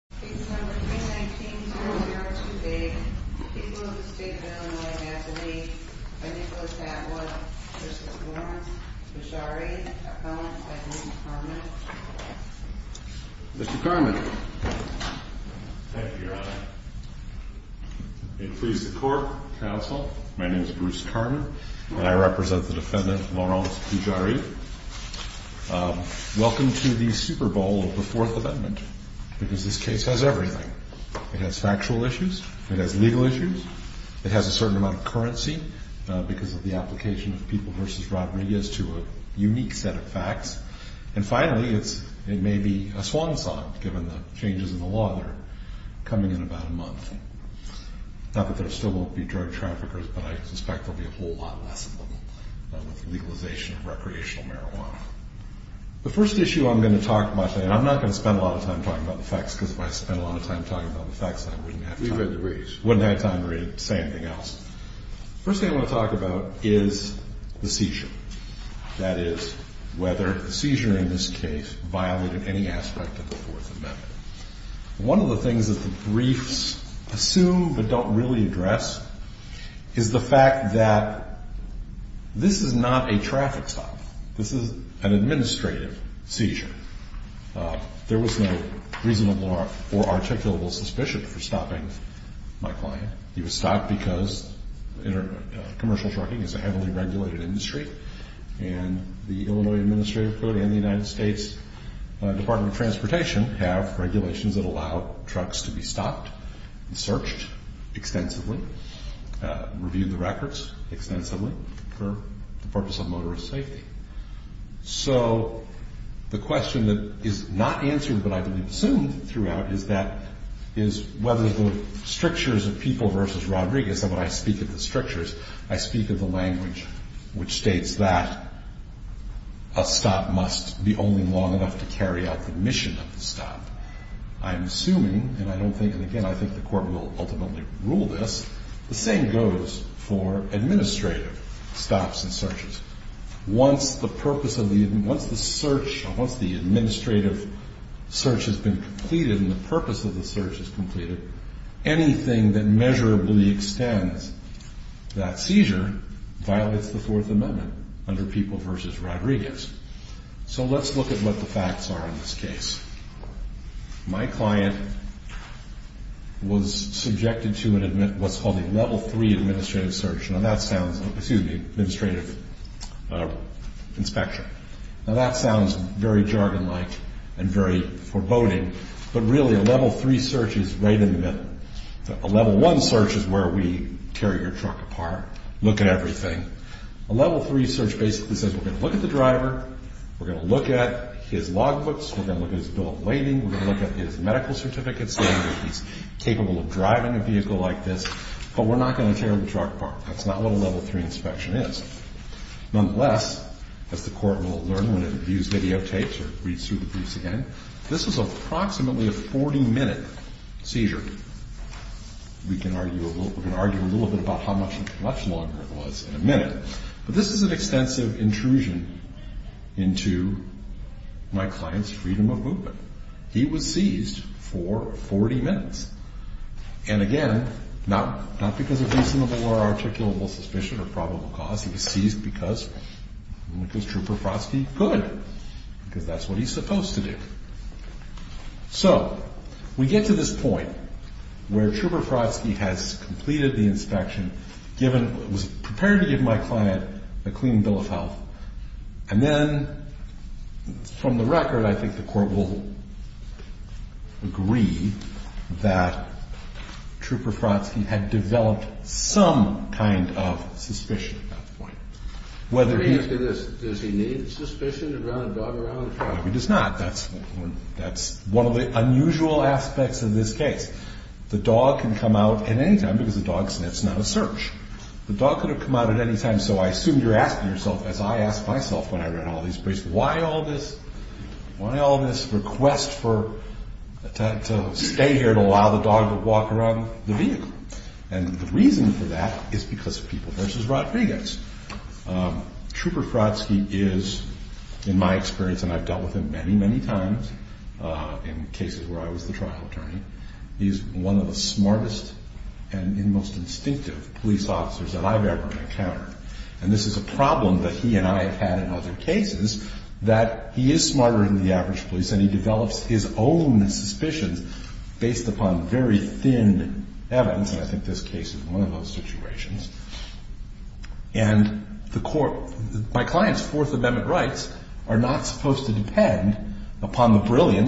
Case number 319-002B. People of the State of Illinois have to be I think it was that one, Bruce Lawrence, Bujari, Lawrence and Bruce Karmann. Mr. Karmann. Thank you, Your Honor. It pleases the court, counsel, my name is Bruce Karmann, and I represent the defendant, Lawrence Bujari. Welcome to the Super Bowl of the Fourth Amendment, because this case has everything. It has factual issues, it has legal issues, it has a certain amount of currency, because of the application of people v. robberies to a unique set of facts. And finally, it may be a swan song, given the changes in the law that are coming in about a month. Not that there still won't be drug traffickers, but I suspect there will be a whole lot less of them with the legalization of recreational marijuana. The first issue I'm going to talk about today, and I'm not going to spend a lot of time talking about the facts, because if I spent a lot of time talking about the facts, I wouldn't have time. The first thing I want to talk about is the seizure. That is, whether the seizure in this case violated any aspect of the Fourth Amendment. One of the things that the briefs assume but don't really address is the fact that this is not a traffic stop. This is an administrative seizure. There was no reasonable or articulable suspicion for stopping my client. He was stopped because commercial trucking is a heavily regulated industry, and the Illinois Administrative Code and the United States Department of Transportation have regulations that allow trucks to be stopped and searched extensively, reviewed the records extensively for the purpose of motorist safety. So the question that is not answered, but I believe assumed throughout, is whether the strictures of people v. Rodriguez, and when I speak of the strictures, I speak of the language which states that a stop must be only long enough to carry out the mission of the stop. I'm assuming, and I don't think, and again, I think the Court will ultimately rule this, the same goes for administrative stops and searches. Once the purpose of the, once the search, once the administrative search has been completed and the purpose of the search is completed, anything that measurably extends that seizure violates the Fourth Amendment under people v. Rodriguez. So let's look at what the facts are in this case. My client was subjected to what's called a level three administrative search. Now that sounds, excuse me, administrative inspection. Now that sounds very jargon-like and very foreboding, but really a level three search is right in the middle. A level one search is where we tear your truck apart, look at everything. A level three search basically says we're going to look at the driver, we're going to look at his log books, we're going to look at his bill of lading, we're going to look at his medical certificates saying that he's capable of driving a vehicle like this, but we're not going to tear the truck apart. That's not what a level three inspection is. Nonetheless, as the Court will learn when it views videotapes or reads through the briefs again, this was approximately a 40-minute seizure. We can argue a little, we can argue a little bit about how much, much longer it was in a minute, but this is an extensive intrusion into my client's freedom of movement. He was seized for 40 minutes. And again, not because of reasonable or articulable suspicion or probable cause. He was seized because Trooper Frosky could, because that's what he's supposed to do. So we get to this point where Trooper Frosky has completed the inspection, was prepared to give my client a clean bill of health, and then from the record I think the Court will agree that Trooper Frosky had developed some kind of suspicion at that point. Does he need suspicion to drive a dog around? No, he does not. That's one of the unusual aspects of this case. The dog can come out at any time because a dog sniffs, not a search. The dog could have come out at any time, so I assume you're asking yourself, as I ask myself when I run all these briefs, why all this request to stay here to allow the dog to walk around the vehicle? And the reason for that is because of people versus Rodriguez. Trooper Frosky is, in my experience, and I've dealt with him many, many times in cases where I was the trial attorney, he's one of the smartest and most instinctive police officers that I've ever encountered. And this is a problem that he and I have had in other cases, that he is smarter than the average police and he develops his own suspicions based upon very thin evidence, and I think this case is one of those situations. And my client's Fourth Amendment rights are not supposed to depend upon the brilliance